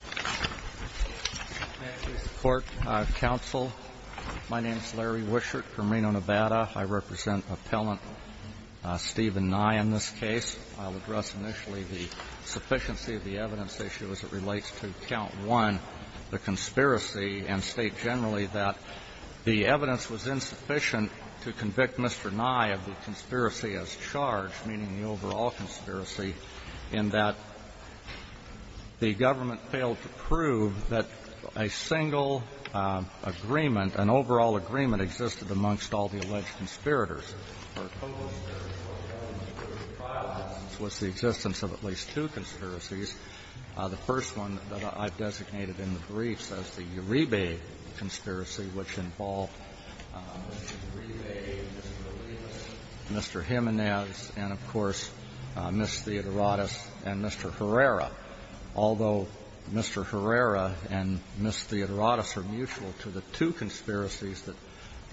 Thank you, Mr. Court, Counsel. My name is Larry Wishart from Reno, Nevada. I represent Appellant Steven Nye in this case. I'll address initially the sufficiency of the evidence issue as it relates to Count 1, the conspiracy, and state generally that the evidence was insufficient to convict Mr. Nye of the conspiracy as charged, meaning the overall conspiracy, in that the government failed to prove that a single agreement, an overall agreement, existed amongst all the alleged conspirators. The proposed conspiracy was the existence of at least two conspiracies. The first one that I've designated in the briefs as the Uribe conspiracy, which involved Mr. Uribe, Mr. Lewis, Mr. Jimenez, and, of course, Ms. Theodorotis and Mr. Herrera. Although Mr. Herrera and Ms. Theodorotis are mutual to the two conspiracies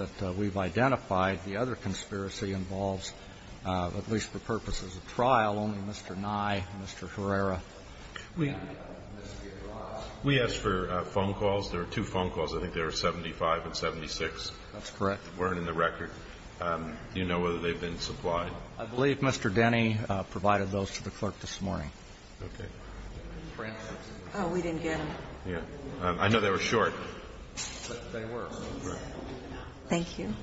that we've identified, the other conspiracy involves, at least for purposes of trial, only Mr. Nye, Mr. Herrera, and Ms. Theodorotis. CHIEF JUSTICE BREYER We asked for phone calls. There were two phone calls. I think there were 75 and 76. STEVEN NYE That's correct. CHIEF JUSTICE BREYER They weren't in the record. Do you know whether they've been supplied? I believe Mr. Denny provided those to the clerk this morning. CHIEF JUSTICE BREYER Okay. CHIEF JUSTICE SOTOMAYOR Oh, we didn't get them. CHIEF JUSTICE BREYER Yeah. I know they were short. CHIEF JUSTICE SOTOMAYOR But they were. CHIEF JUSTICE SOTOMAYOR Thank you.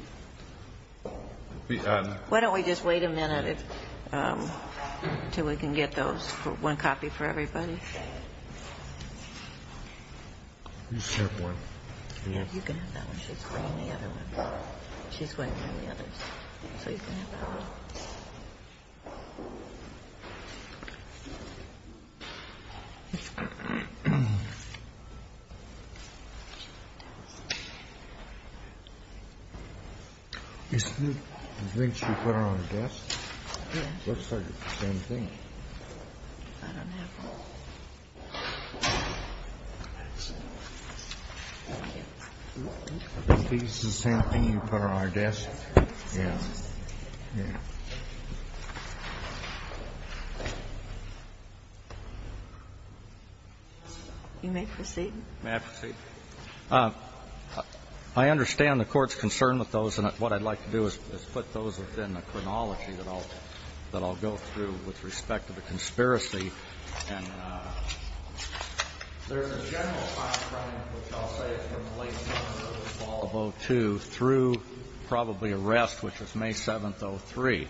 Why don't we just wait a minute until we can get those? One copy for everybody. CHIEF JUSTICE BREYER I understand the Court's concern with those, and what I'd like to do is put those within the chronology that I'll go through with respect to the conspiracy and there's a general time frame, which I'll say is from the late summer or the fall of 2002 through probably arrest, which was May 7th, 2003.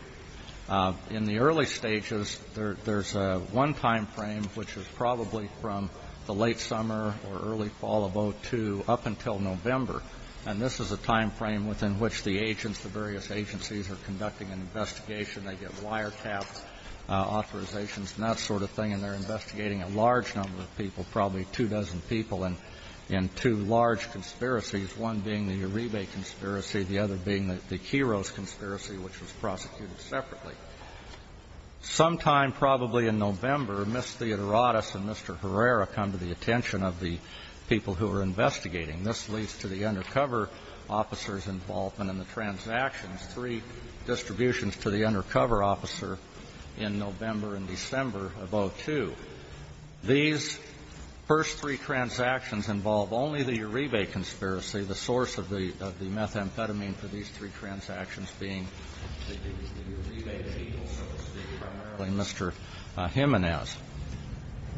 In the early stages, there's one time frame which is probably from the late summer or early fall of 2002 up until November, and this is a time frame within which the agents, the various agencies, are conducting an investigation. They get wiretaps, authorizations, and that sort of thing, and they're investigating a large number of people, probably two dozen people in two large conspiracies, one being the Uribe conspiracy, the other being the Quiros conspiracy, which was prosecuted separately. Sometime probably in November, Ms. Theodorotis and Mr. Herrera come to the attention of the people who are investigating. This leads to the undercover officers' involvement in the transactions, three distributions to the undercover officer in November and December of 2002. These first three transactions involve only the Uribe conspiracy, the source of the methamphetamine for these three transactions being the Uribe people, so to speak, primarily Mr. Jimenez.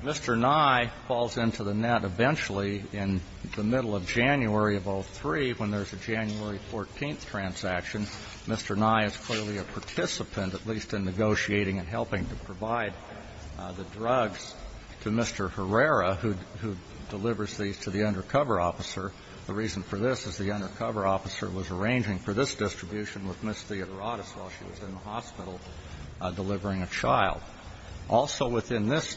Mr. Nye falls into the net eventually in the middle of January of 2003 when there's a January 14th transaction. Mr. Nye is clearly a participant, at least in negotiating and helping to provide the drugs to Mr. Herrera, who delivers these to the undercover officer. The reason for this is the undercover officer was arranging for this distribution with Ms. Theodorotis while she was in the hospital delivering a child. Also within this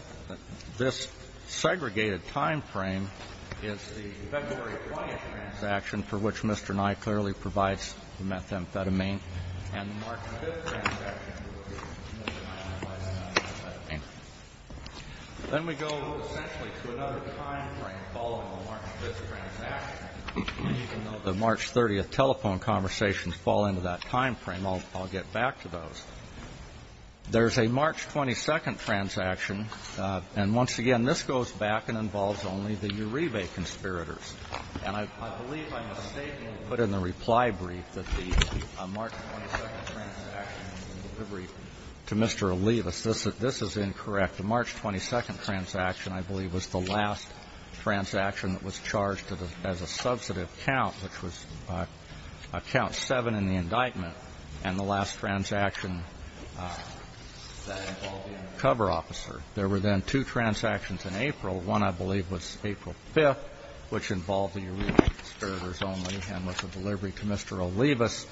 segregated time frame is the February 14th transaction for which Mr. Nye clearly provides the methamphetamine and the March 5th transaction for which Mr. Nye provides the methamphetamine. Then we go essentially to another time frame following the March 5th transaction. Even though the March 30th telephone conversations fall into that time frame, I'll get back to those. There's a March 22nd transaction, and once again this goes back and involves only the undercover officer. I believe I mistakenly put in the reply brief that the March 22nd transaction was a delivery to Mr. Olivas. This is incorrect. The March 22nd transaction, I believe, was the last transaction that was charged as a substantive count, which was count 7 in the indictment, and the last transaction that involved the undercover officer. There were then two transactions in April. One, I believe, was April 5th, which involved the Uribe conspirators only, and was a delivery to Mr. Olivas,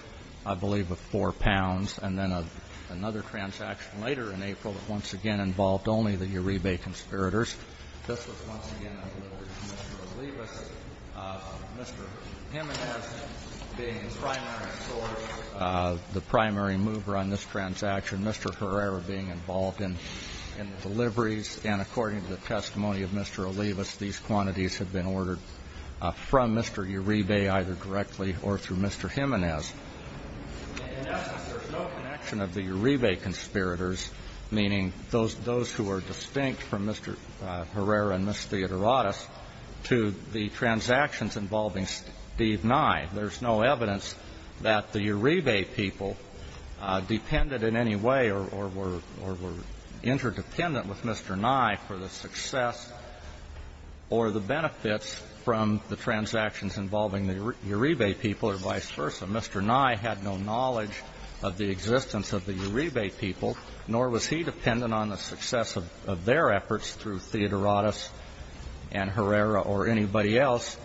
I believe, of four pounds. And then another transaction later in April that once again involved only the Uribe conspirators. This was once again a delivery to Mr. Olivas, Mr. Jimenez being the primary source, the primary mover on this transaction, Mr. Herrera being involved in the delivery. Now, in essence, there's no connection of the Uribe conspirators, meaning those who are distinct from Mr. Herrera and Ms. Theodoratos, to the transactions involving Steve Nye. There's no evidence that the Uribe people depended in any way or were interdependent with Mr. Jimenez in any way. Now, in essence, there's no connection of the Uribe conspirators to Mr. Nye for the success or the benefits from the transactions involving the Uribe people or vice versa. Mr. Nye had no knowledge of the existence of the Uribe people, nor was he dependent on the success of their efforts through Theodoratos and Herrera or anybody else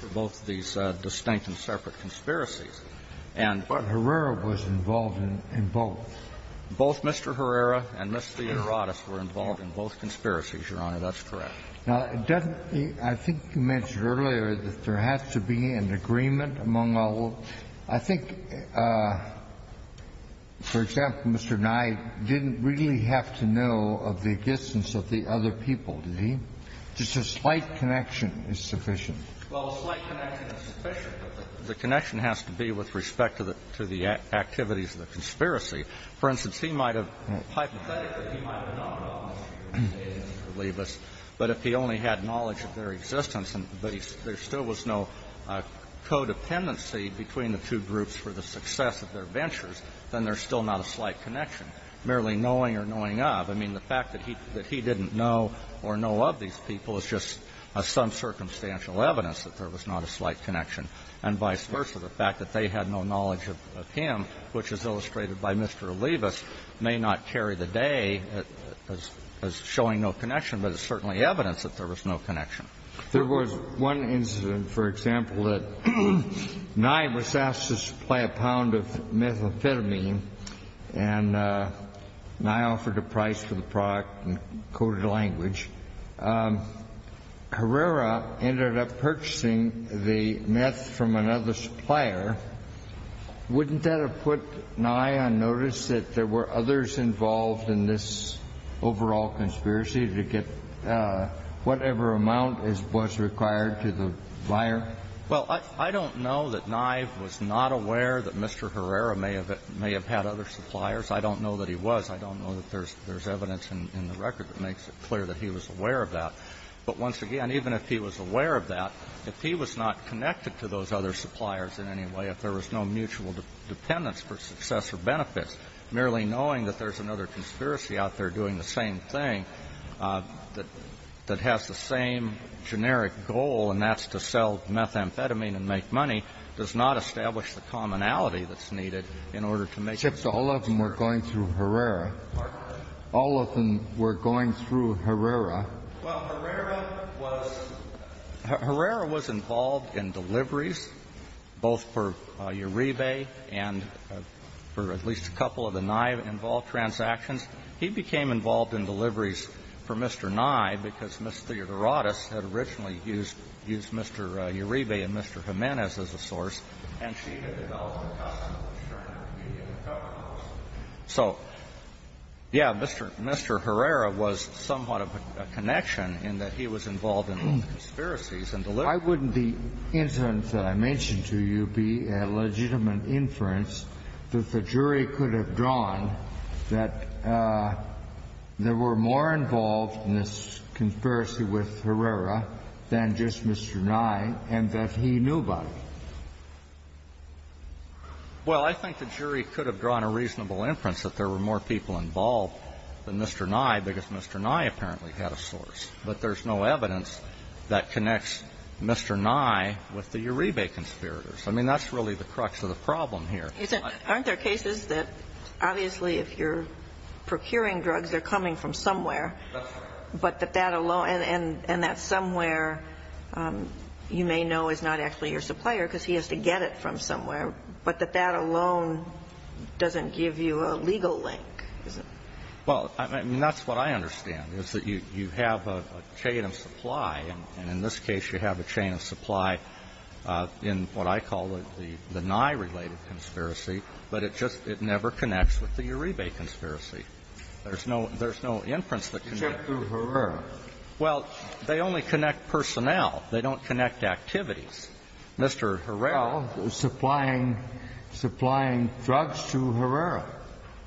for both these distinct and separate conspiracies. And but Herrera was involved in both. Both Mr. Herrera and Ms. Theodoratos were involved in both conspiracies, Your Honor. That's correct. Now, doesn't the – I think you mentioned earlier that there has to be an agreement among all of – I think, for example, Mr. Nye didn't really have to know of the existence of the other people, did he? Just a slight connection is sufficient. Well, a slight connection is sufficient, but the connection has to be with respect to the activities of the conspiracy. For instance, he might have – hypothetically, he might have known about Mr. Uribe and Mr. Libas, but if he only had knowledge of their existence and there still was no codependency between the two groups for the success of their ventures, then there's still not a slight connection, merely knowing or knowing of. I mean, the fact that he didn't know or know of these people is just some circumstantial evidence that there was not a slight connection, and vice versa, the fact that they had no knowledge of him, which is illustrated by Mr. Libas, may not carry the day as showing no connection, but it's certainly evidence that there was no connection. There was one incident, for example, that Nye was asked to supply a pound of methamphetamine and Nye offered a price for the product in coded language. Herrera ended up purchasing the meth from another supplier. Wouldn't that have put Nye on notice that there were others involved in this overall conspiracy to get whatever amount was required to the buyer? Well, I don't know that Nye was not aware that Mr. Herrera may have had other suppliers. I don't know that he was. I don't know that there's evidence in the record that makes it clear that he was aware of that. But once again, even if he was aware of that, if he was not connected to those other suppliers in any way, if there was no mutual dependence for success or benefits, merely knowing that there's another conspiracy out there doing the same thing that has the same generic goal, and that's to sell methamphetamine and make money, does it make any sense to you that Mr. Herrera was not aware of the other suppliers Mr. Herrera was not aware of that. Except all of them were going through Herrera. All of them were going through Herrera. Well, Herrera was involved in deliveries, both for Uribe and for at least a couple of the Nye-involved transactions. He became involved in deliveries for Mr. Nye because Ms. Theodorotis had originally used Mr. Uribe and Mr. Jimenez as a source, and she had developed a custom of assuring her immediate cover costs. So, yeah, Mr. Herrera was somewhat of a connection in that he was involved in conspiracies and deliveries. Why wouldn't the instance that I mentioned to you be a legitimate inference that the jury could have drawn that there were more involved in this conspiracy with Herrera than just Mr. Nye and that he knew about it? Well, I think the jury could have drawn a reasonable inference that there were more people involved than Mr. Nye because Mr. Nye apparently had a source, but there's no evidence that connects Mr. Nye with the Uribe conspirators. I mean, that's really the crux of the problem here. Aren't there cases that, obviously, if you're procuring drugs, they're coming from somewhere, but that that alone – and that somewhere you may know is not actually your supplier because he has to get it from somewhere, but that that alone doesn't give you a legal link? Well, I mean, that's what I understand, is that you have a chain of supply, and in this case, you have a chain of supply in what I call the Nye-related conspiracies and the Uribe conspiracy, but it just – it never connects with the Uribe conspiracy. There's no – there's no inference that connects. Except through Herrera. Well, they only connect personnel. They don't connect activities. Mr. Herrera – Well, supplying – supplying drugs to Herrera.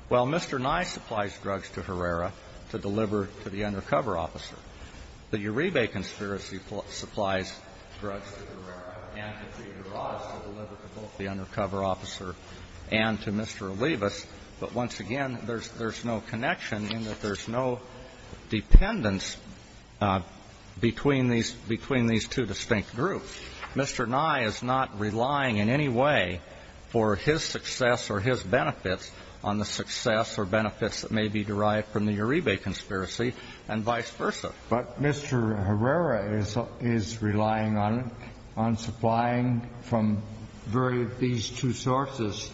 Well, Mr. Nye supplies drugs to Herrera to deliver to the undercover officer. The Uribe conspiracy supplies drugs to Herrera and to Peter Ross to deliver to both the undercover officer and to Mr. Olivas, but once again, there's – there's no connection in that there's no dependence between these – between these two distinct groups. Mr. Nye is not relying in any way for his success or his benefits on the success or benefits that may be derived from the Uribe conspiracy and vice versa. But Mr. Herrera is – is relying on – on supplying from various – these two sources,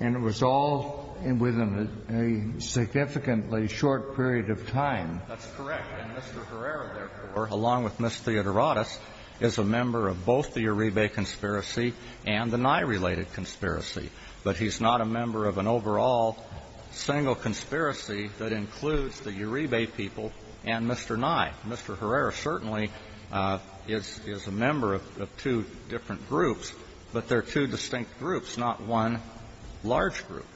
and it was all within a significantly short period of time. That's correct. And Mr. Herrera, therefore, along with Ms. Theodoratos, is a member of both the Uribe conspiracy and the Nye-related conspiracy, but he's not a member of an overall single conspiracy that includes the Uribe people and Mr. Nye. Mr. Herrera certainly is – is a member of two different groups, but they're two distinct groups, not one large group.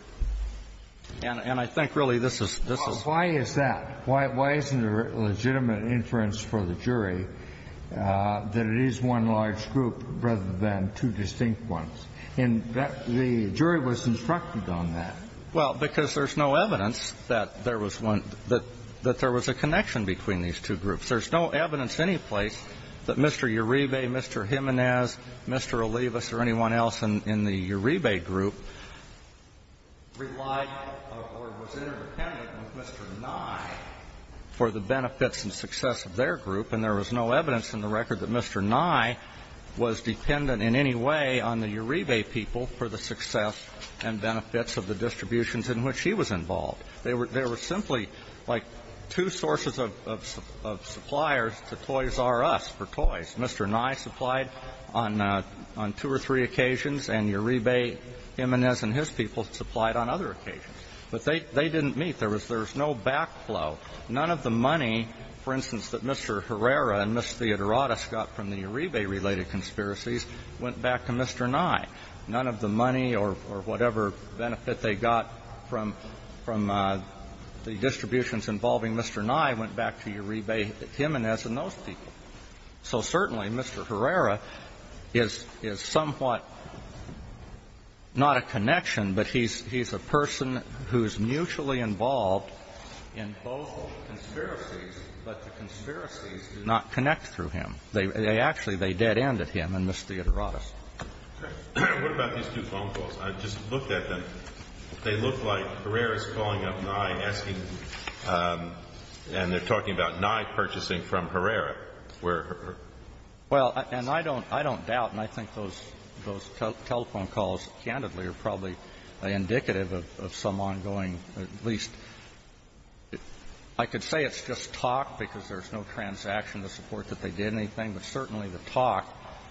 And I think, really, this is – this is why is that? Why isn't there a legitimate inference for the jury that it is one large group rather than two distinct ones? And the jury was instructed on that. Well, because there's no evidence that there was one – that there was a connection between these two groups. There's no evidence anyplace that Mr. Uribe, Mr. Jimenez, Mr. Olivas, or anyone else in the Uribe group relied or was interdependent with Mr. Nye for the benefits and success of their group, and there was no evidence in the record that Mr. Nye was dependent in any way on the Uribe people for the success and benefits of the distributions in which he was involved. They were – they were simply like two sources of suppliers to Toys R Us for toys. Mr. Nye supplied on – on two or three occasions, and Uribe, Jimenez, and his people supplied on other occasions. But they – they didn't meet. There was – there was no backflow. None of the money, for instance, that Mr. Herrera and Ms. Theodoradis got from the Uribe-related conspiracies went back to Mr. Nye. None of the money or – or whatever benefit they got from – from the distributions involving Mr. Nye went back to Uribe, Jimenez, and those people. So certainly, Mr. Herrera is – is somewhat not a connection, but he's – he's a person who's mutually involved in both conspiracies, but the conspiracies do not connect through him. They – they actually – they dead-end at him and Ms. Theodoradis. What about these two phone calls? I just looked at them. They look like Herrera's calling up Nye and asking – and they're talking about Nye purchasing from Herrera, where her – Well, and I don't – I don't doubt, and I think those – those telephone calls, candidly, are probably indicative of some ongoing, at least – I could say it's just talk because there's no transaction to support that they did anything, but certainly the talk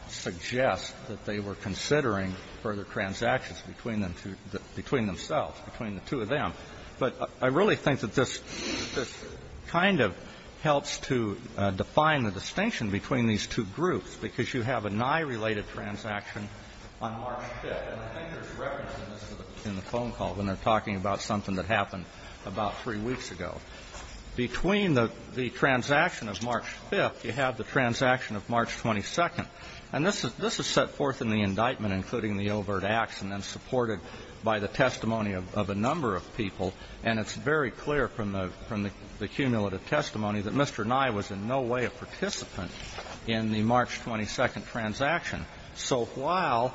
suggests that they were considering further transactions between them – between themselves, between the two of them. But I really think that this – this kind of helps to define the distinction between these two groups because you have a Nye-related transaction on March 5th, and I think there's reference to this in the phone call when they're talking about something that happened about three weeks ago. Between the – the transaction of March 5th, you have the transaction of March 22nd. And this is – this is set forth in the indictment, including the overt acts, and then supported by the testimony of a number of people. And it's very clear from the – from the cumulative testimony that Mr. Nye was in no way a participant in the March 22nd transaction. So while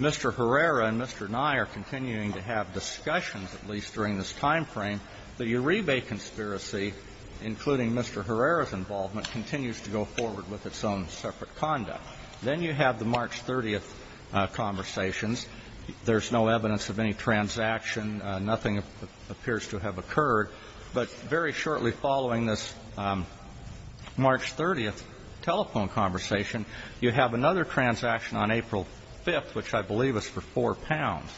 Mr. Herrera and Mr. Nye are continuing to have discussions, at least during this timeframe, the Uribe conspiracy, including Mr. Herrera's involvement, continues to go forward with its own separate conduct. Then you have the March 30th conversations. There's no evidence of any transaction. Nothing appears to have occurred. But very shortly following this March 30th telephone conversation, you have another transaction on April 5th, which I believe is for four pounds.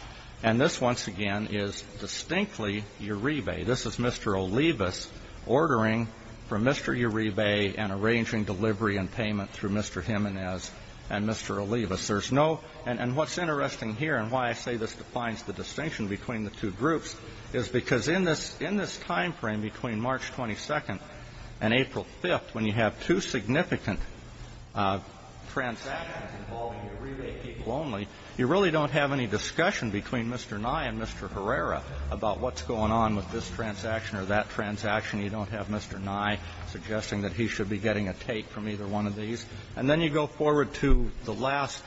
And this, once again, is distinctly Uribe. This is Mr. Olivas ordering from Mr. Uribe and arranging delivery and payment through Mr. Jimenez and Mr. Olivas. There's no – and what's interesting here and why I say this defines the distinction between the two groups is because in this – in this timeframe between March 22nd and April 5th, when you have two significant transactions involving Uribe people only, you really don't have any discussion between Mr. Nye and Mr. Herrera about what's going on with this transaction or that transaction. You don't have Mr. Nye suggesting that he should be getting a take from either one of these. And then you go forward to the last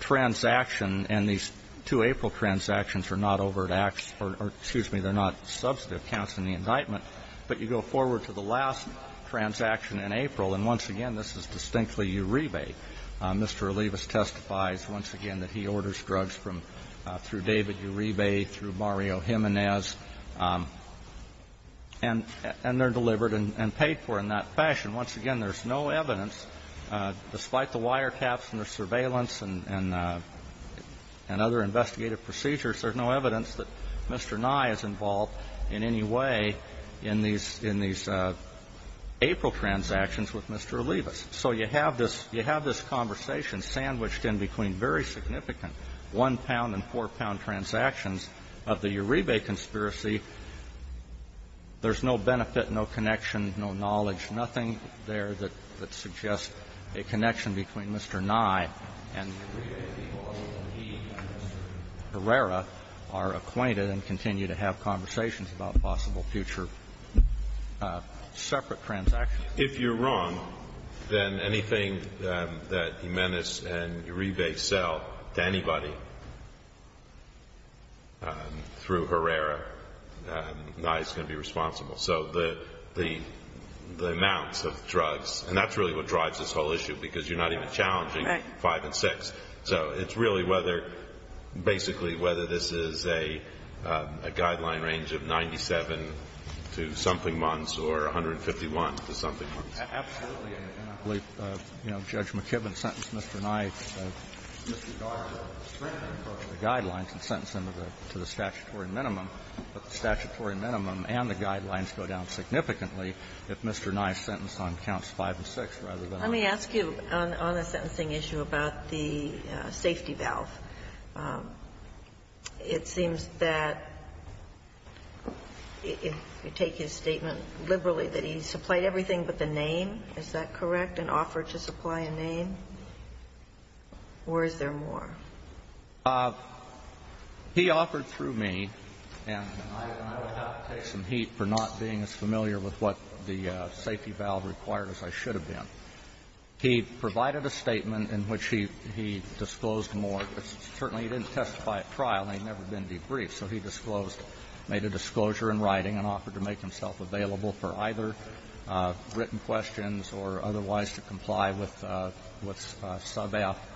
transaction, and these two April transactions are not over at – or, excuse me, they're not substantive counts in the indictment. But you go forward to the last transaction in April, and once again, this is distinctly Uribe. Mr. Olivas testifies once again that he orders drugs from – through David Uribe, through Mario Jimenez, and they're delivered and paid for in that fashion. Once again, there's no evidence, despite the wiretaps and the surveillance and other investigative procedures, there's no evidence that Mr. Nye is involved in any way in these – in these April transactions with Mr. Olivas. So you have this – you have this conversation sandwiched in between very significant one-pound and four-pound transactions of the Uribe conspiracy. There's no benefit, no connection, no knowledge, nothing there that suggests a connection between Mr. Nye and Uribe, because he and Mr. Herrera are acquainted and continue to have conversations about possible future separate transactions. If you're wrong, then anything that Jimenez and Uribe sell to anybody through Herrera, Nye's going to be responsible. So the amounts of drugs – and that's really what drives this whole issue, because you're not even challenging 5 and 6. So it's really whether – basically whether this is a guideline range of 97-something months or 151-something months. Absolutely. And I believe, you know, Judge McKibben sentenced Mr. Nye to the guidelines and sentenced him to the statutory minimum. But the statutory minimum and the guidelines go down significantly if Mr. Nye is sentenced on counts 5 and 6, rather than on 5 and 6. Let me ask you on the sentencing issue about the safety valve. It seems that if you take his statement liberally, that he supplied everything but the name. Is that correct, an offer to supply a name? Or is there more? He offered through me, and I would have to take some heat for not being as familiar with what the safety valve required, as I should have been. He provided a statement in which he disclosed more. Certainly, he didn't testify at trial, and he had never been debriefed. So he disclosed – made a disclosure in writing and offered to make himself available for either written questions or otherwise to comply with sub F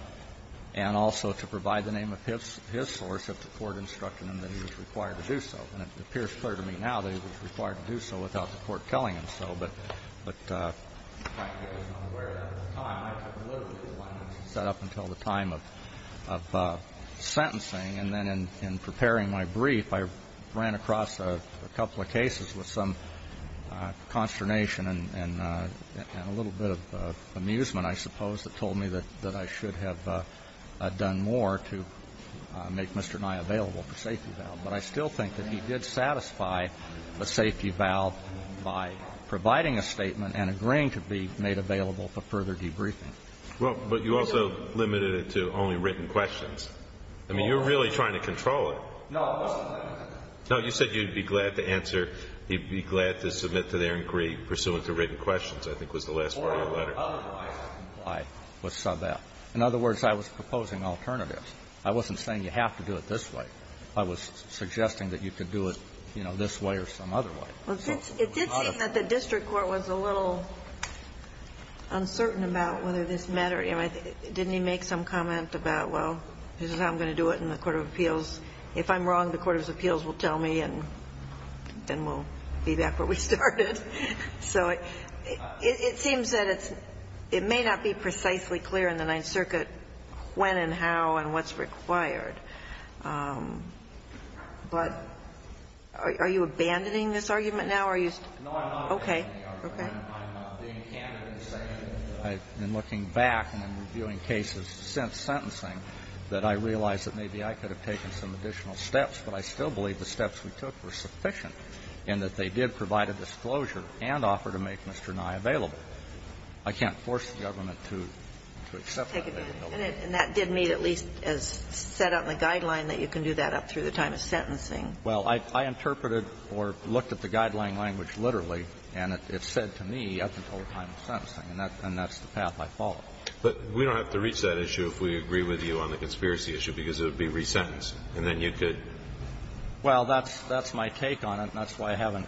and also to provide the name of his source if the court instructed him that he was required to do so. And it appears clear to me now that he was required to do so without the court telling him so. But I was not aware of that at the time. I had literally been set up until the time of sentencing, and then in preparing my brief, I ran across a couple of cases with some consternation and a little bit of amusement, I suppose, that told me that I should have done more to make Mr. Nye available for safety valve. But I still think that he did satisfy the safety valve by providing a statement and agreeing to be made available for further debriefing. Alito, but you also limited it to only written questions. I mean, you were really trying to control it. No, I wasn't. No, you said you'd be glad to answer – you'd be glad to submit to their inquiry pursuant to written questions, I think was the last part of your letter. Or otherwise comply with sub F. In other words, I was proposing alternatives. I wasn't saying you have to do it this way. I was suggesting that you could do it, you know, this way or some other way. It did seem that the district court was a little uncertain about whether this mattered. Didn't he make some comment about, well, this is how I'm going to do it in the court of appeals. If I'm wrong, the court of appeals will tell me and then we'll be back where we started. So it seems that it's – it may not be precisely clear in the Ninth Circuit when and how and what's required. But are you abandoning this argument now? Are you – No, I'm not abandoning the argument. Okay. I'm being candid in saying that I've been looking back and I'm reviewing cases since sentencing that I realize that maybe I could have taken some additional steps, but I still believe the steps we took were sufficient and that they did provide a disclosure and offer to make Mr. Nye available. I can't force the government to accept that. And that did meet at least as set out in the guideline that you can do that up through the time of sentencing. Well, I interpreted or looked at the guideline language literally, and it said to me up until the time of sentencing, and that's the path I followed. But we don't have to reach that issue if we agree with you on the conspiracy issue, because it would be resentenced, and then you could – Well, that's my take on it, and that's why I haven't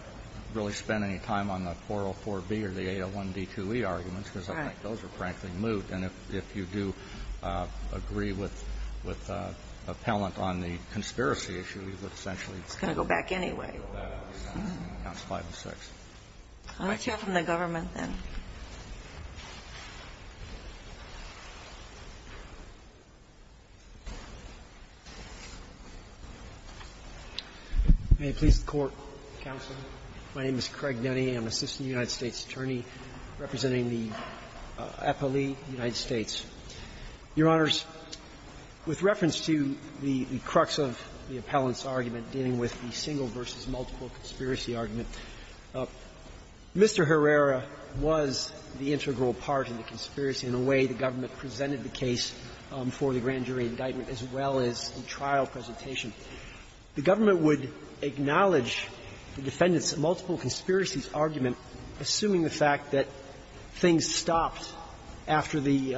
really spent any time on the 404B or the 801D2E arguments, because I think those are, frankly, moot. And if you do agree with Appellant on the conspiracy issue, you would essentially – It's going to go back anyway. That's 506. I'll let you have it from the government, then. May it please the Court, Counsel. My name is Craig Denny. I'm an assistant United States attorney representing the Appellee United States. Your Honors, with reference to the crux of the Appellant's argument dealing with the single-versus-multiple conspiracy argument, Mr. Herrera was the integral part of the conspiracy in the way the government presented the case for the grand jury indictment as well as the trial presentation. The government would acknowledge the defendant's multiple conspiracies argument, assuming the fact that things stopped after the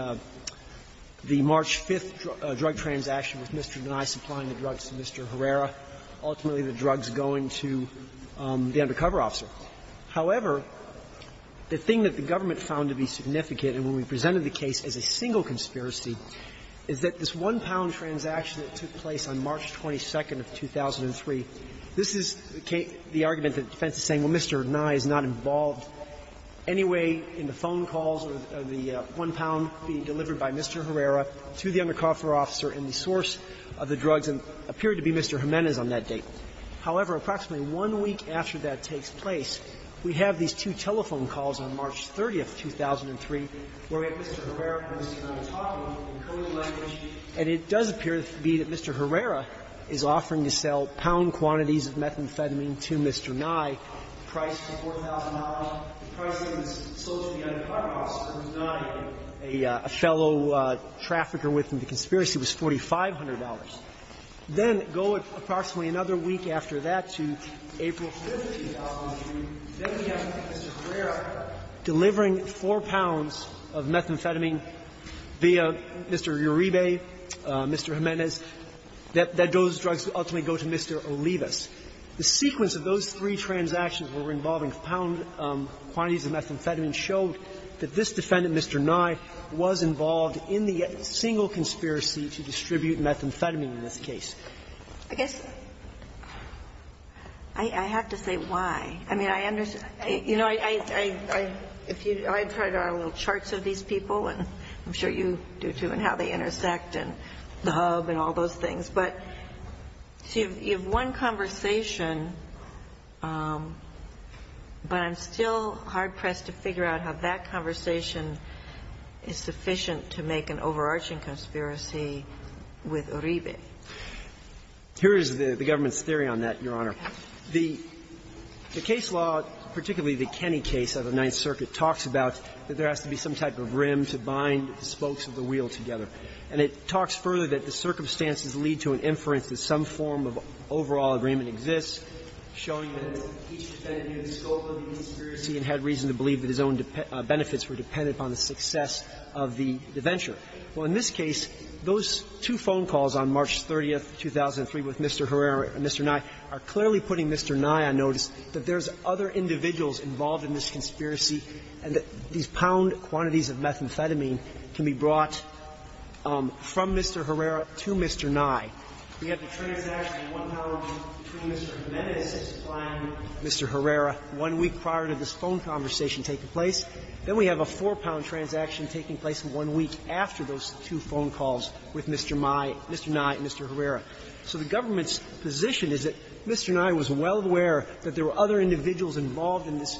March 5th drug transaction with Mr. Denny supplying the drugs to Mr. Herrera, ultimately the drugs going to the undercover officer. However, the thing that the government found to be significant, and when we presented the case as a single conspiracy, is that this one-pound transaction that took place on March 22nd of 2003, this is the argument that the defense is saying, well, Mr. Nye is not involved anyway in the phone calls or the one-pound being delivered by Mr. Herrera to the undercover officer and the source of the drugs, and appeared to be Mr. Jimenez on that date. However, approximately one week after that takes place, we have these two telephone calls on March 30th, 2003, where we have Mr. Herrera and Mr. Nye talking in code language, and it does appear to be that Mr. Herrera is offering to sell pound quantities of methamphetamine to Mr. Nye, priced at $4,000, the price being sold to the undercover officer who is not a fellow trafficker within the conspiracy, was $4,500. Then go approximately another week after that to April 15th, 2003, then we have Mr. Herrera delivering four pounds of methamphetamine via Mr. Uribe, Mr. Jimenez. Those drugs ultimately go to Mr. Olivas. The sequence of those three transactions where we're involving pound quantities of methamphetamine showed that this defendant, Mr. Nye, was involved in the single conspiracy to distribute methamphetamine in this case. I guess I have to say why. I mean, I understand. You know, I try to add little charts of these people, and I'm sure you do, too, and how they intersect and the hub and all those things. But you have one conversation, but I'm still hard-pressed to figure out how that conversation is sufficient to make an overarching conspiracy with Uribe. Here is the government's theory on that, Your Honor. The case law, particularly the Kenney case of the Ninth Circuit, talks about that there has to be some type of rim to bind the spokes of the wheel together. And it talks further that the circumstances lead to an inference that some form of overall agreement exists, showing that each defendant knew the scope of the conspiracy and had reason to believe that his own benefits were dependent upon the success of the venture. Well, in this case, those two phone calls on March 30th, 2003, with Mr. Herrera and Mr. Nye, are clearly putting Mr. Nye on notice that there's other individuals involved in this conspiracy, and that these pound quantities of methamphetamine can be brought from Mr. Herrera to Mr. Nye. We have the transaction of one pound between Mr. Jimenez and Mr. Herrera one week prior to this phone conversation taking place. Then we have a four-pound transaction taking place one week after those two phone calls with Mr. Nye and Mr. Herrera. So the government's position is that Mr. Nye was well aware that there were other individuals involved in this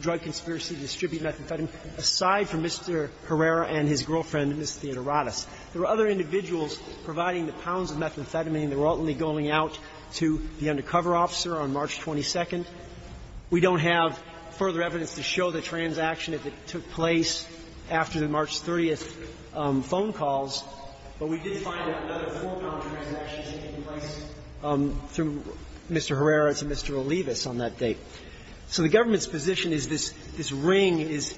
drug conspiracy to distribute methamphetamine aside from Mr. Herrera and his girlfriend, Ms. Theodoradis. There were other individuals providing the pounds of methamphetamine. They were ultimately going out to the undercover officer on March 22nd. We don't have further evidence to show the transaction as it took place after the March 30th phone calls. But we did find that another four-pound transaction is taking place through Mr. Herrera to Mr. Olivas on that date. So the government's position is this ring is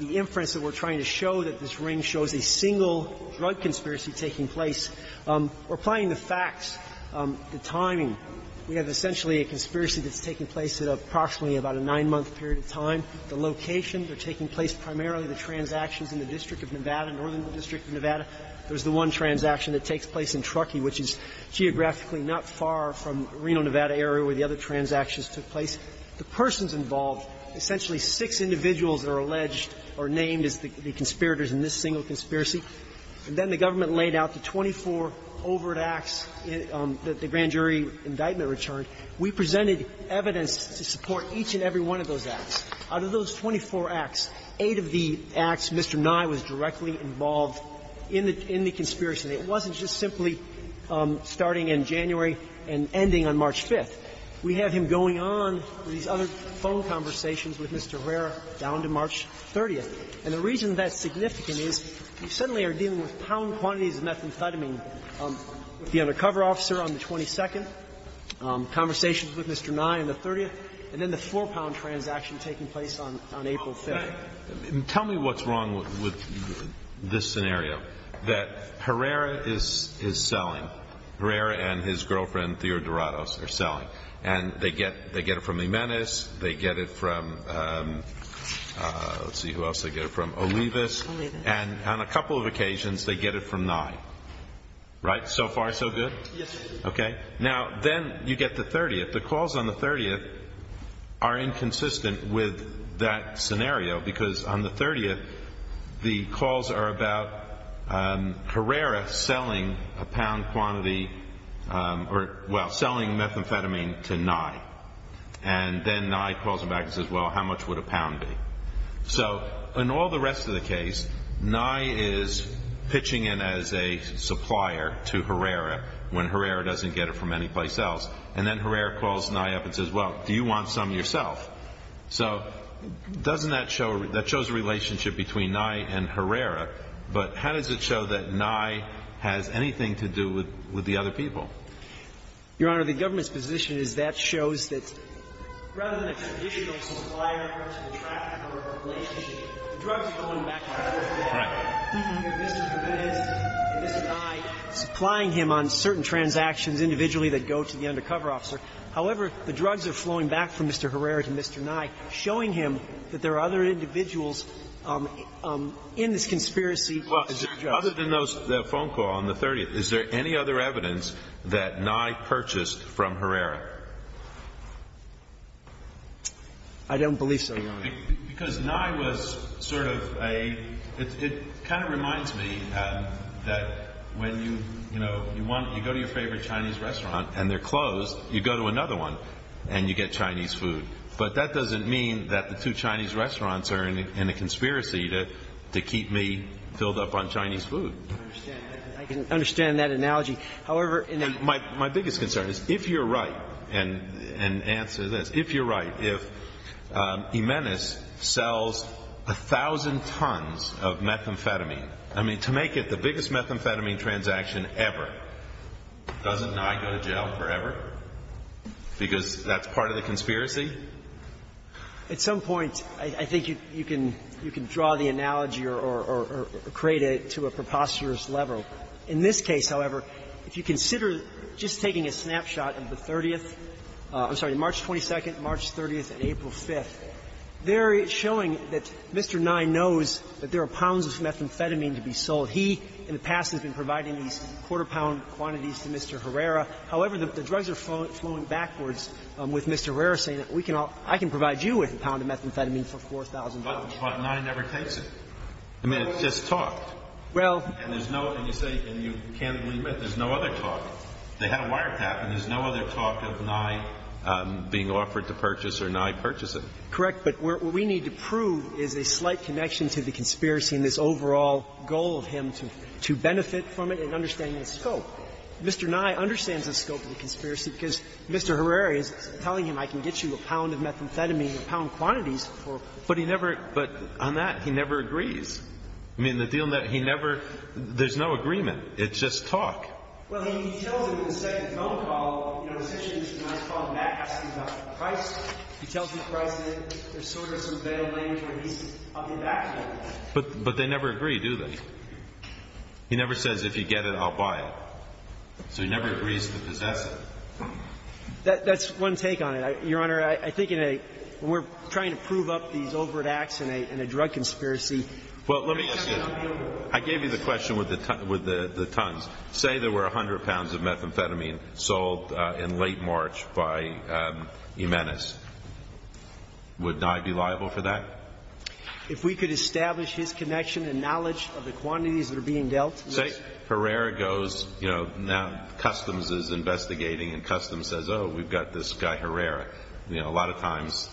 the inference that we're trying to show that this ring shows a single drug conspiracy taking place. We're applying the facts, the timing. We have essentially a conspiracy that's taking place at approximately about a nine-month period of time. The location, they're taking place primarily at the transactions in the district of Nevada, northern district of Nevada. There's the one transaction that takes place in Truckee, which is geographically not far from Reno, Nevada area where the other transactions took place. The persons involved, essentially six individuals are alleged or named as the conspirators in this single conspiracy. And then the government laid out the 24 overt acts that the grand jury indictment returned. We presented evidence to support each and every one of those acts. Out of those 24 acts, eight of the acts, Mr. Nye was directly involved in the conspiracy. It wasn't just simply starting in January and ending on March 5th. We have him going on these other phone conversations with Mr. Herrera down to March 30th. And the reason that's significant is we suddenly are dealing with pound quantities of methamphetamine with the undercover officer on the 22nd, conversations with Mr. Nye on the 30th, and then the four pound transaction taking place on April 5th. And tell me what's wrong with this scenario, that Herrera is selling. Herrera and his girlfriend, Theodore Dorados, are selling. And they get it from Jimenez. They get it from, let's see who else they get it from, Olivas. And on a couple of occasions, they get it from Nye. Right? So far so good? Yes, sir. Okay. Now, then you get the 30th. The calls on the 30th are inconsistent with that scenario because on the 30th, the calls are about Herrera selling a pound quantity or, well, selling methamphetamine to Nye. And then Nye calls him back and says, well, how much would a pound be? So in all the rest of the case, Nye is pitching in as a supplier to Herrera when Herrera doesn't get it from any place else. And then Herrera calls Nye up and says, well, do you want some yourself? So doesn't that show, that shows a relationship between Nye and Herrera. But how does it show that Nye has anything to do with the other people? Your Honor, the government's position is that shows that rather than a traditional supplier to the trafficker of a relationship, the drug is going back to the trafficker. Right. So the drug is going back to the trafficker, but the drug is going back to Mr. Herrera. So the drug is going back to Mr. Herrera. The drug is going back to Mr. Nye, supplying him on certain transactions individually that go to the undercover officer. However, the drugs are flowing back from Mr. Herrera to Mr. Nye, showing him that there are other individuals in this conspiracy. Well, other than those phone calls on the 30th, is there any other evidence that Nye has anything to do with the other people? I don't believe so, Your Honor. Because Nye was sort of a – it kind of reminds me that when you, you know, you go to your favorite Chinese restaurant and they're closed, you go to another one and you get Chinese food. But that doesn't mean that the two Chinese restaurants are in a conspiracy to keep me filled up on Chinese food. I understand that analogy. However, in the – My biggest concern is, if you're right, and answer this, if you're right, if Jimenez sells 1,000 tons of methamphetamine, I mean, to make it the biggest methamphetamine transaction ever, doesn't Nye go to jail forever because that's part of the conspiracy? At some point, I think you can – you can draw the analogy or create it to a preposterous level. In this case, however, if you consider just taking a snapshot of the 30th – I'm sorry, March 22nd, March 30th, and April 5th, they're showing that Mr. Nye knows that there are pounds of methamphetamine to be sold. He, in the past, has been providing these quarter-pound quantities to Mr. Herrera. However, the drugs are flowing backwards with Mr. Herrera saying that we can all – I can provide you with a pound of methamphetamine for 4,000 pounds. But Nye never takes it. I mean, it's just talked. Well – And there's no – and you say – and you can't believe it. There's no other talk. They had a wiretap, and there's no other talk of Nye being offered to purchase or Nye purchasing. Correct. But what we need to prove is a slight connection to the conspiracy and this overall goal of him to benefit from it and understanding the scope. Mr. Nye understands the scope of the conspiracy because Mr. Herrera is telling him, I can get you a pound of methamphetamine in pound quantities for – But he never – but on that, he never agrees. I mean, the deal – he never – there's no agreement. It's just talk. Well, he tells him in the second phone call, you know, the situation is not called max, he's not priced. He tells him the price, and there's sort of some veiled language where he's on the back burner. But they never agree, do they? He never says, if you get it, I'll buy it. So he never agrees to possess it. That's one take on it, Your Honor. I think in a – when we're trying to prove up these overt acts in a drug conspiracy, Well, let me ask you. I gave you the question with the tons. Say there were 100 pounds of methamphetamine sold in late March by Jimenez. Would Nye be liable for that? If we could establish his connection and knowledge of the quantities that are being dealt to us – Say Herrera goes, you know, now Customs is investigating, and Customs says, oh, we've got this guy Herrera. You know, a lot of times,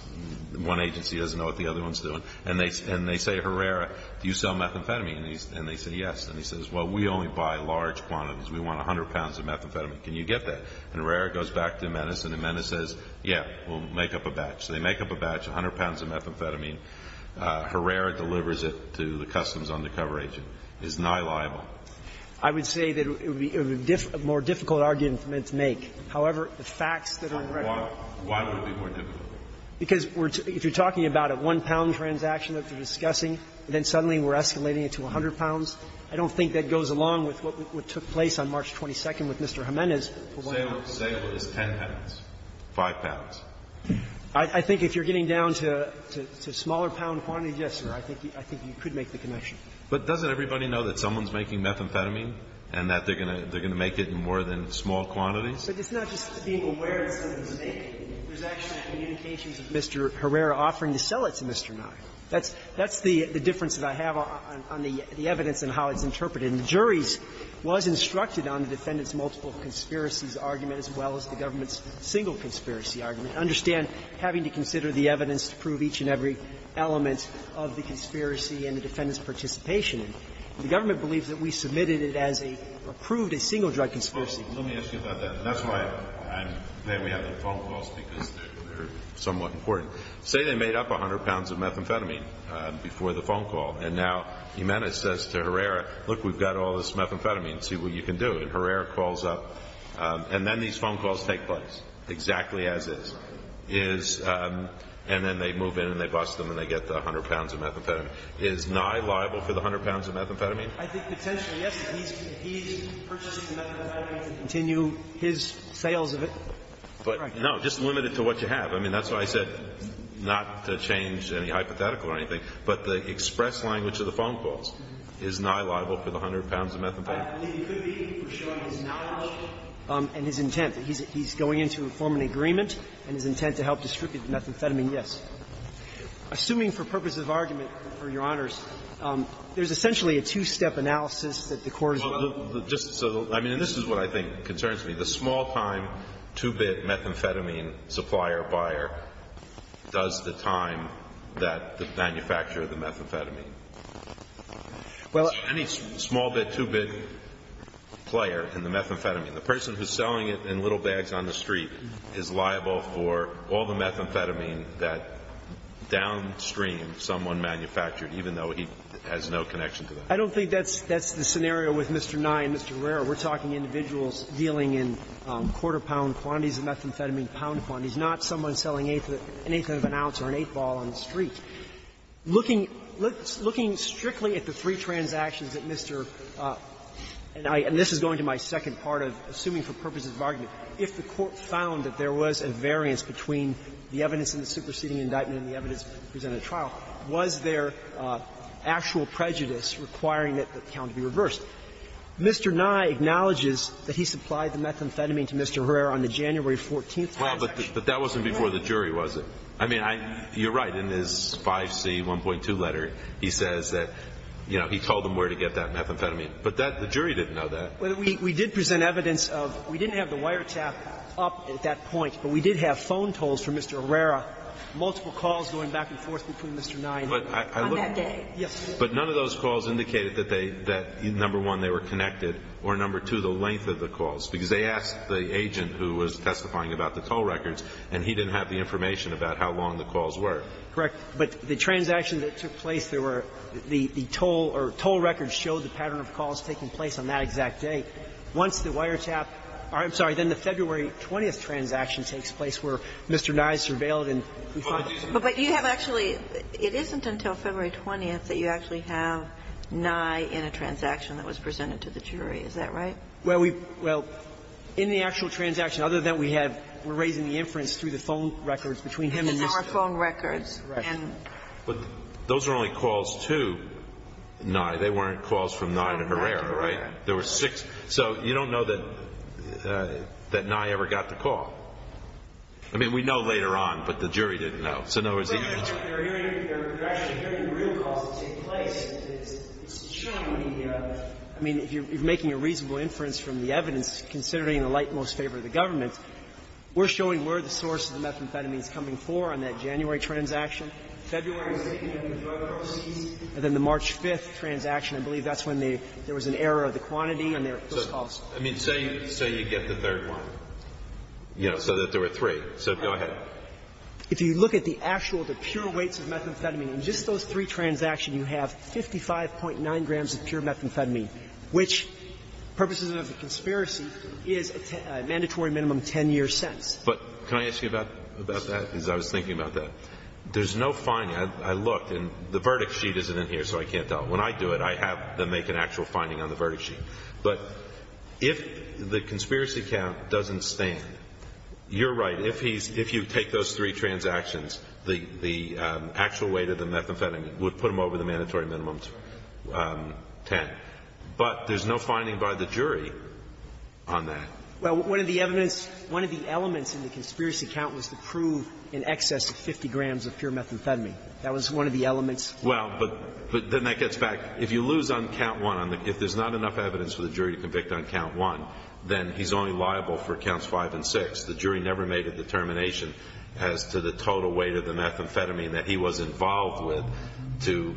one agency doesn't know what the other one's doing. And they say, Herrera, do you sell methamphetamine? And they say, yes. And he says, well, we only buy large quantities. We want 100 pounds of methamphetamine. Can you get that? And Herrera goes back to Jimenez, and Jimenez says, yeah, we'll make up a batch. So they make up a batch, 100 pounds of methamphetamine. Herrera delivers it to the Customs undercover agent. Is Nye liable? I would say that it would be more difficult argument to make. However, the facts that are in record – Why would it be more difficult? Because if you're talking about a one-pound transaction that they're discussing and then suddenly we're escalating it to 100 pounds, I don't think that goes along with what took place on March 22nd with Mr. Jimenez. Sale is 10 pounds, 5 pounds. I think if you're getting down to smaller pound quantities, yes, sir, I think you could make the connection. But doesn't everybody know that someone's making methamphetamine and that they're going to make it in more than small quantities? But it's not just being aware that someone's making it. There's actually communications of Mr. Herrera offering to sell it to Mr. Nye. That's the difference that I have on the evidence and how it's interpreted. And the juries was instructed on the defendant's multiple conspiracies argument as well as the government's single conspiracy argument. I understand having to consider the evidence to prove each and every element of the conspiracy and the defendant's participation. The government believes that we submitted it as a – approved a single drug conspiracy. Let me ask you about that. And that's why I'm glad we have the phone calls because they're somewhat important. Say they made up 100 pounds of methamphetamine before the phone call. And now Jimenez says to Herrera, look, we've got all this methamphetamine. See what you can do. And Herrera calls up. And then these phone calls take place, exactly as is. Is – and then they move in and they bust them and they get the 100 pounds of methamphetamine. Is Nye liable for the 100 pounds of methamphetamine? I think potentially, yes. He's purchasing the methamphetamine to continue his sales of it. But no, just limit it to what you have. I mean, that's why I said not to change any hypothetical or anything. But the express language of the phone calls. Is Nye liable for the 100 pounds of methamphetamine? It could be for showing his knowledge and his intent. He's going in to form an agreement and his intent to help distribute the methamphetamine, yes. Assuming for purposes of argument, Your Honors, there's essentially a two-step analysis that the Court is going to look at. I mean, this is what I think concerns me. The small-time, two-bit methamphetamine supplier or buyer does the time that the manufacturer of the methamphetamine. Any small-bit, two-bit player in the methamphetamine, the person who's selling it in little bags on the street, is liable for all the methamphetamine that downstream someone manufactured, even though he has no connection to them? I don't think that's the scenario with Mr. Nye and Mr. Guerrero. We're talking individuals dealing in quarter-pound quantities of methamphetamine, pound quantities, not someone selling an eighth of an ounce or an eighth ball on the street. Looking strictly at the three transactions that Mr. Nye – and this is going to my argument – if the Court found that there was a variance between the evidence in the superseding indictment and the evidence presented in the trial, was there actual prejudice requiring that the count be reversed? Mr. Nye acknowledges that he supplied the methamphetamine to Mr. Guerrero on the January 14th transaction. Well, but that wasn't before the jury, was it? I mean, I – you're right. In his 5C1.2 letter, he says that, you know, he told him where to get that methamphetamine. But that – the jury didn't know that. Well, we did present evidence of – we didn't have the wiretap up at that point, but we did have phone tolls for Mr. Guerrero, multiple calls going back and forth between Mr. Nye and him. On that day? Yes. But none of those calls indicated that they – that, number one, they were connected, or, number two, the length of the calls, because they asked the agent who was testifying about the toll records, and he didn't have the information about how long the calls were. Correct. But the transaction that took place, there were – the toll or toll records showed the pattern of calls taking place on that exact day. Once the wiretap – I'm sorry. Then the February 20th transaction takes place where Mr. Nye is surveilled and we find him. But you have actually – it isn't until February 20th that you actually have Nye in a transaction that was presented to the jury. Is that right? Well, we – well, in the actual transaction, other than we have – we're raising the inference through the phone records between him and Mr. Nye. Because there were phone records. Right. But those were only calls to Nye. They weren't calls from Nye to Herrera, right? There were six. So you don't know that – that Nye ever got the call. I mean, we know later on, but the jury didn't know. So in other words, the agent – But you're hearing – you're actually hearing the real calls that take place. It's showing the – I mean, you're making a reasonable inference from the evidence considering the light most favor of the government. We're showing where the source of the methamphetamine is coming for on that January transaction, February, and then the March 5th transaction. I believe that's when they – there was an error of the quantity and there were those calls. I mean, say – say you get the third one, you know, so that there were three. So go ahead. If you look at the actual, the pure weights of methamphetamine, in just those three transactions, you have 55.9 grams of pure methamphetamine, which, purposes of the conspiracy, is a mandatory minimum 10 years' sentence. But can I ask you about – about that? Because I was thinking about that. There's no finding. I looked, and the verdict sheet isn't in here, so I can't tell. When I do it, I have to make an actual finding on the verdict sheet. But if the conspiracy count doesn't stand, you're right. If he's – if you take those three transactions, the actual weight of the methamphetamine would put him over the mandatory minimum 10. But there's no finding by the jury on that. Well, one of the evidence – one of the elements in the conspiracy count was to prove in excess of 50 grams of pure methamphetamine. That was one of the elements. Well, but then that gets back. If you lose on count one, if there's not enough evidence for the jury to convict on count one, then he's only liable for counts five and six. The jury never made a determination as to the total weight of the methamphetamine that he was involved with to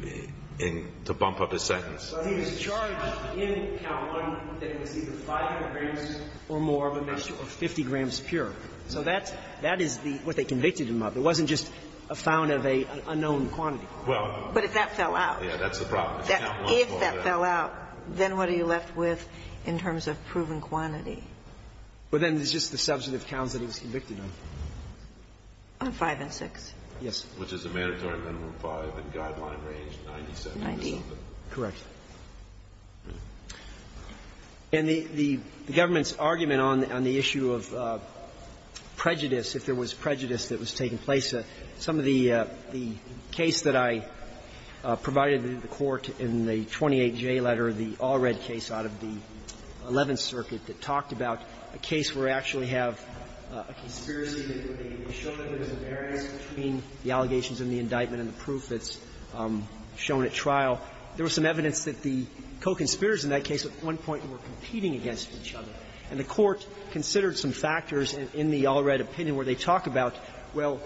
bump up his sentence. But he was charged in count one that it was either 500 grams or more of a mixture of 50 grams pure. So that's – that is the – what they convicted him of. It wasn't just a found of an unknown quantity. Well – But if that fell out. Yeah, that's the problem. If that fell out, then what are you left with in terms of proven quantity? Well, then it's just the substantive counts that he was convicted on. On five and six? Yes. Which is a mandatory minimum five and guideline range 97 or something. Correct. And the government's argument on the issue of prejudice, if there was prejudice that was taking place, some of the case that I provided to the Court in the 28J letter, the all-red case out of the Eleventh Circuit that talked about, a case where we actually have a conspiracy that they show that there's a variance between the allegations and the indictment and the proof that's shown at trial. There was some evidence that the co-conspirators in that case at one point were competing against each other, and the Court considered some factors in the all-red opinion where they talk about, well,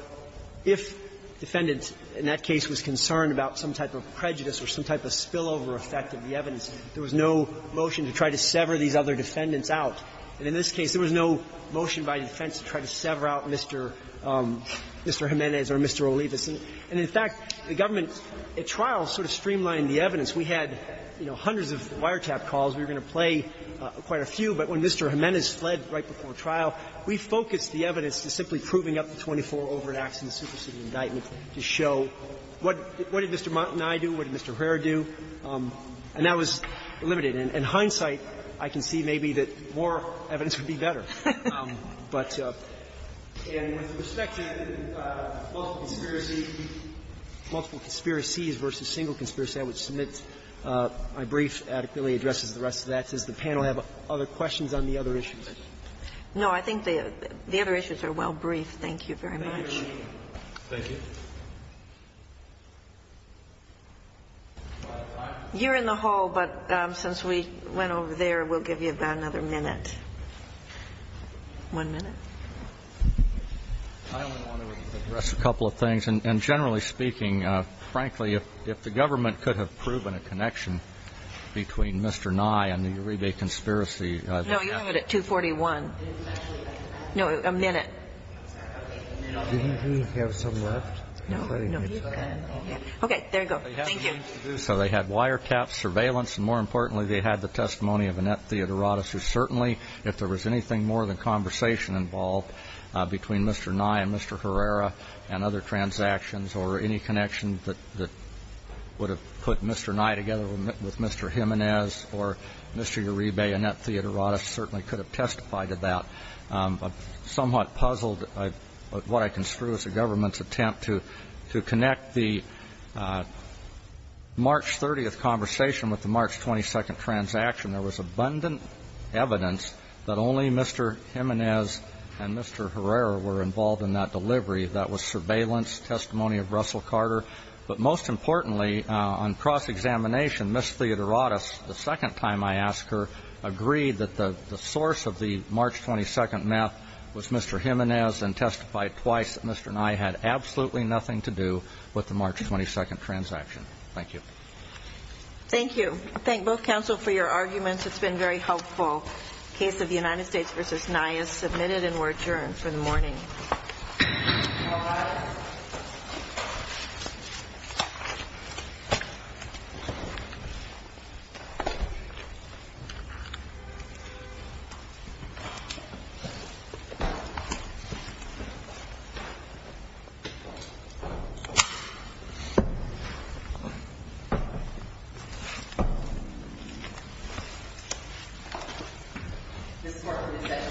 if defendants in that case was concerned about some type of prejudice or some type of spillover effect of the evidence, there was no motion to try to sever these other defendants out. And in this case, there was no motion by defense to try to sever out Mr. Jimenez or Mr. Olivas. And in fact, the government at trial sort of streamlined the evidence. We had, you know, hundreds of wiretap calls. We were going to play quite a few, but when Mr. Jimenez fled right before trial, we focused the evidence to simply proving up the 24 all-red acts in the superseded indictment to show what did Mr. Montanay do, what did Mr. Herr do. And that was limited. In hindsight, I can see maybe that more evidence would be better. But with respect to multiple conspiracy, multiple conspiracies versus single conspiracy, I would submit my brief adequately addresses the rest of that. Does the panel have other questions on the other issues? No, I think the other issues are well briefed. Thank you very much. Thank you. You're in the hall, but since we went over there, we'll give you about another minute. One minute. I only want to address a couple of things. And generally speaking, frankly, if the government could have proven a connection between Mr. Nye and the Uribe conspiracy. No, you're at 241. No, a minute. Do you have some left? No, no. Okay, there you go. Thank you. So they had wiretaps, surveillance, and more importantly, they had the testimony of Annette Theodorotis, who certainly, if there was anything more than conversation involved between Mr. Nye and Mr. Herrera and other transactions or any connection that would have put Mr. Nye together with Mr. Jimenez or Mr. Uribe, Annette Theodorotis certainly could have testified to that. I'm somewhat puzzled at what I construe as the government's attempt to connect the March 30th conversation with the March 22nd transaction. There was abundant evidence that only Mr. Jimenez and Mr. Herrera were involved in that delivery. That was surveillance, testimony of Russell Carter. But most importantly, on cross-examination, Ms. Theodorotis, the second time I asked her, agreed that the source of the March 22nd meth was Mr. Jimenez and testified twice that Mr. Nye had absolutely nothing to do with the March 22nd transaction. Thank you. Thank you. Thank you. Thank both counsel for your arguments. It's been very helpful. Case of United States v. Nye is submitted and we're adjourned for the morning. This court is adjourned. Thank you.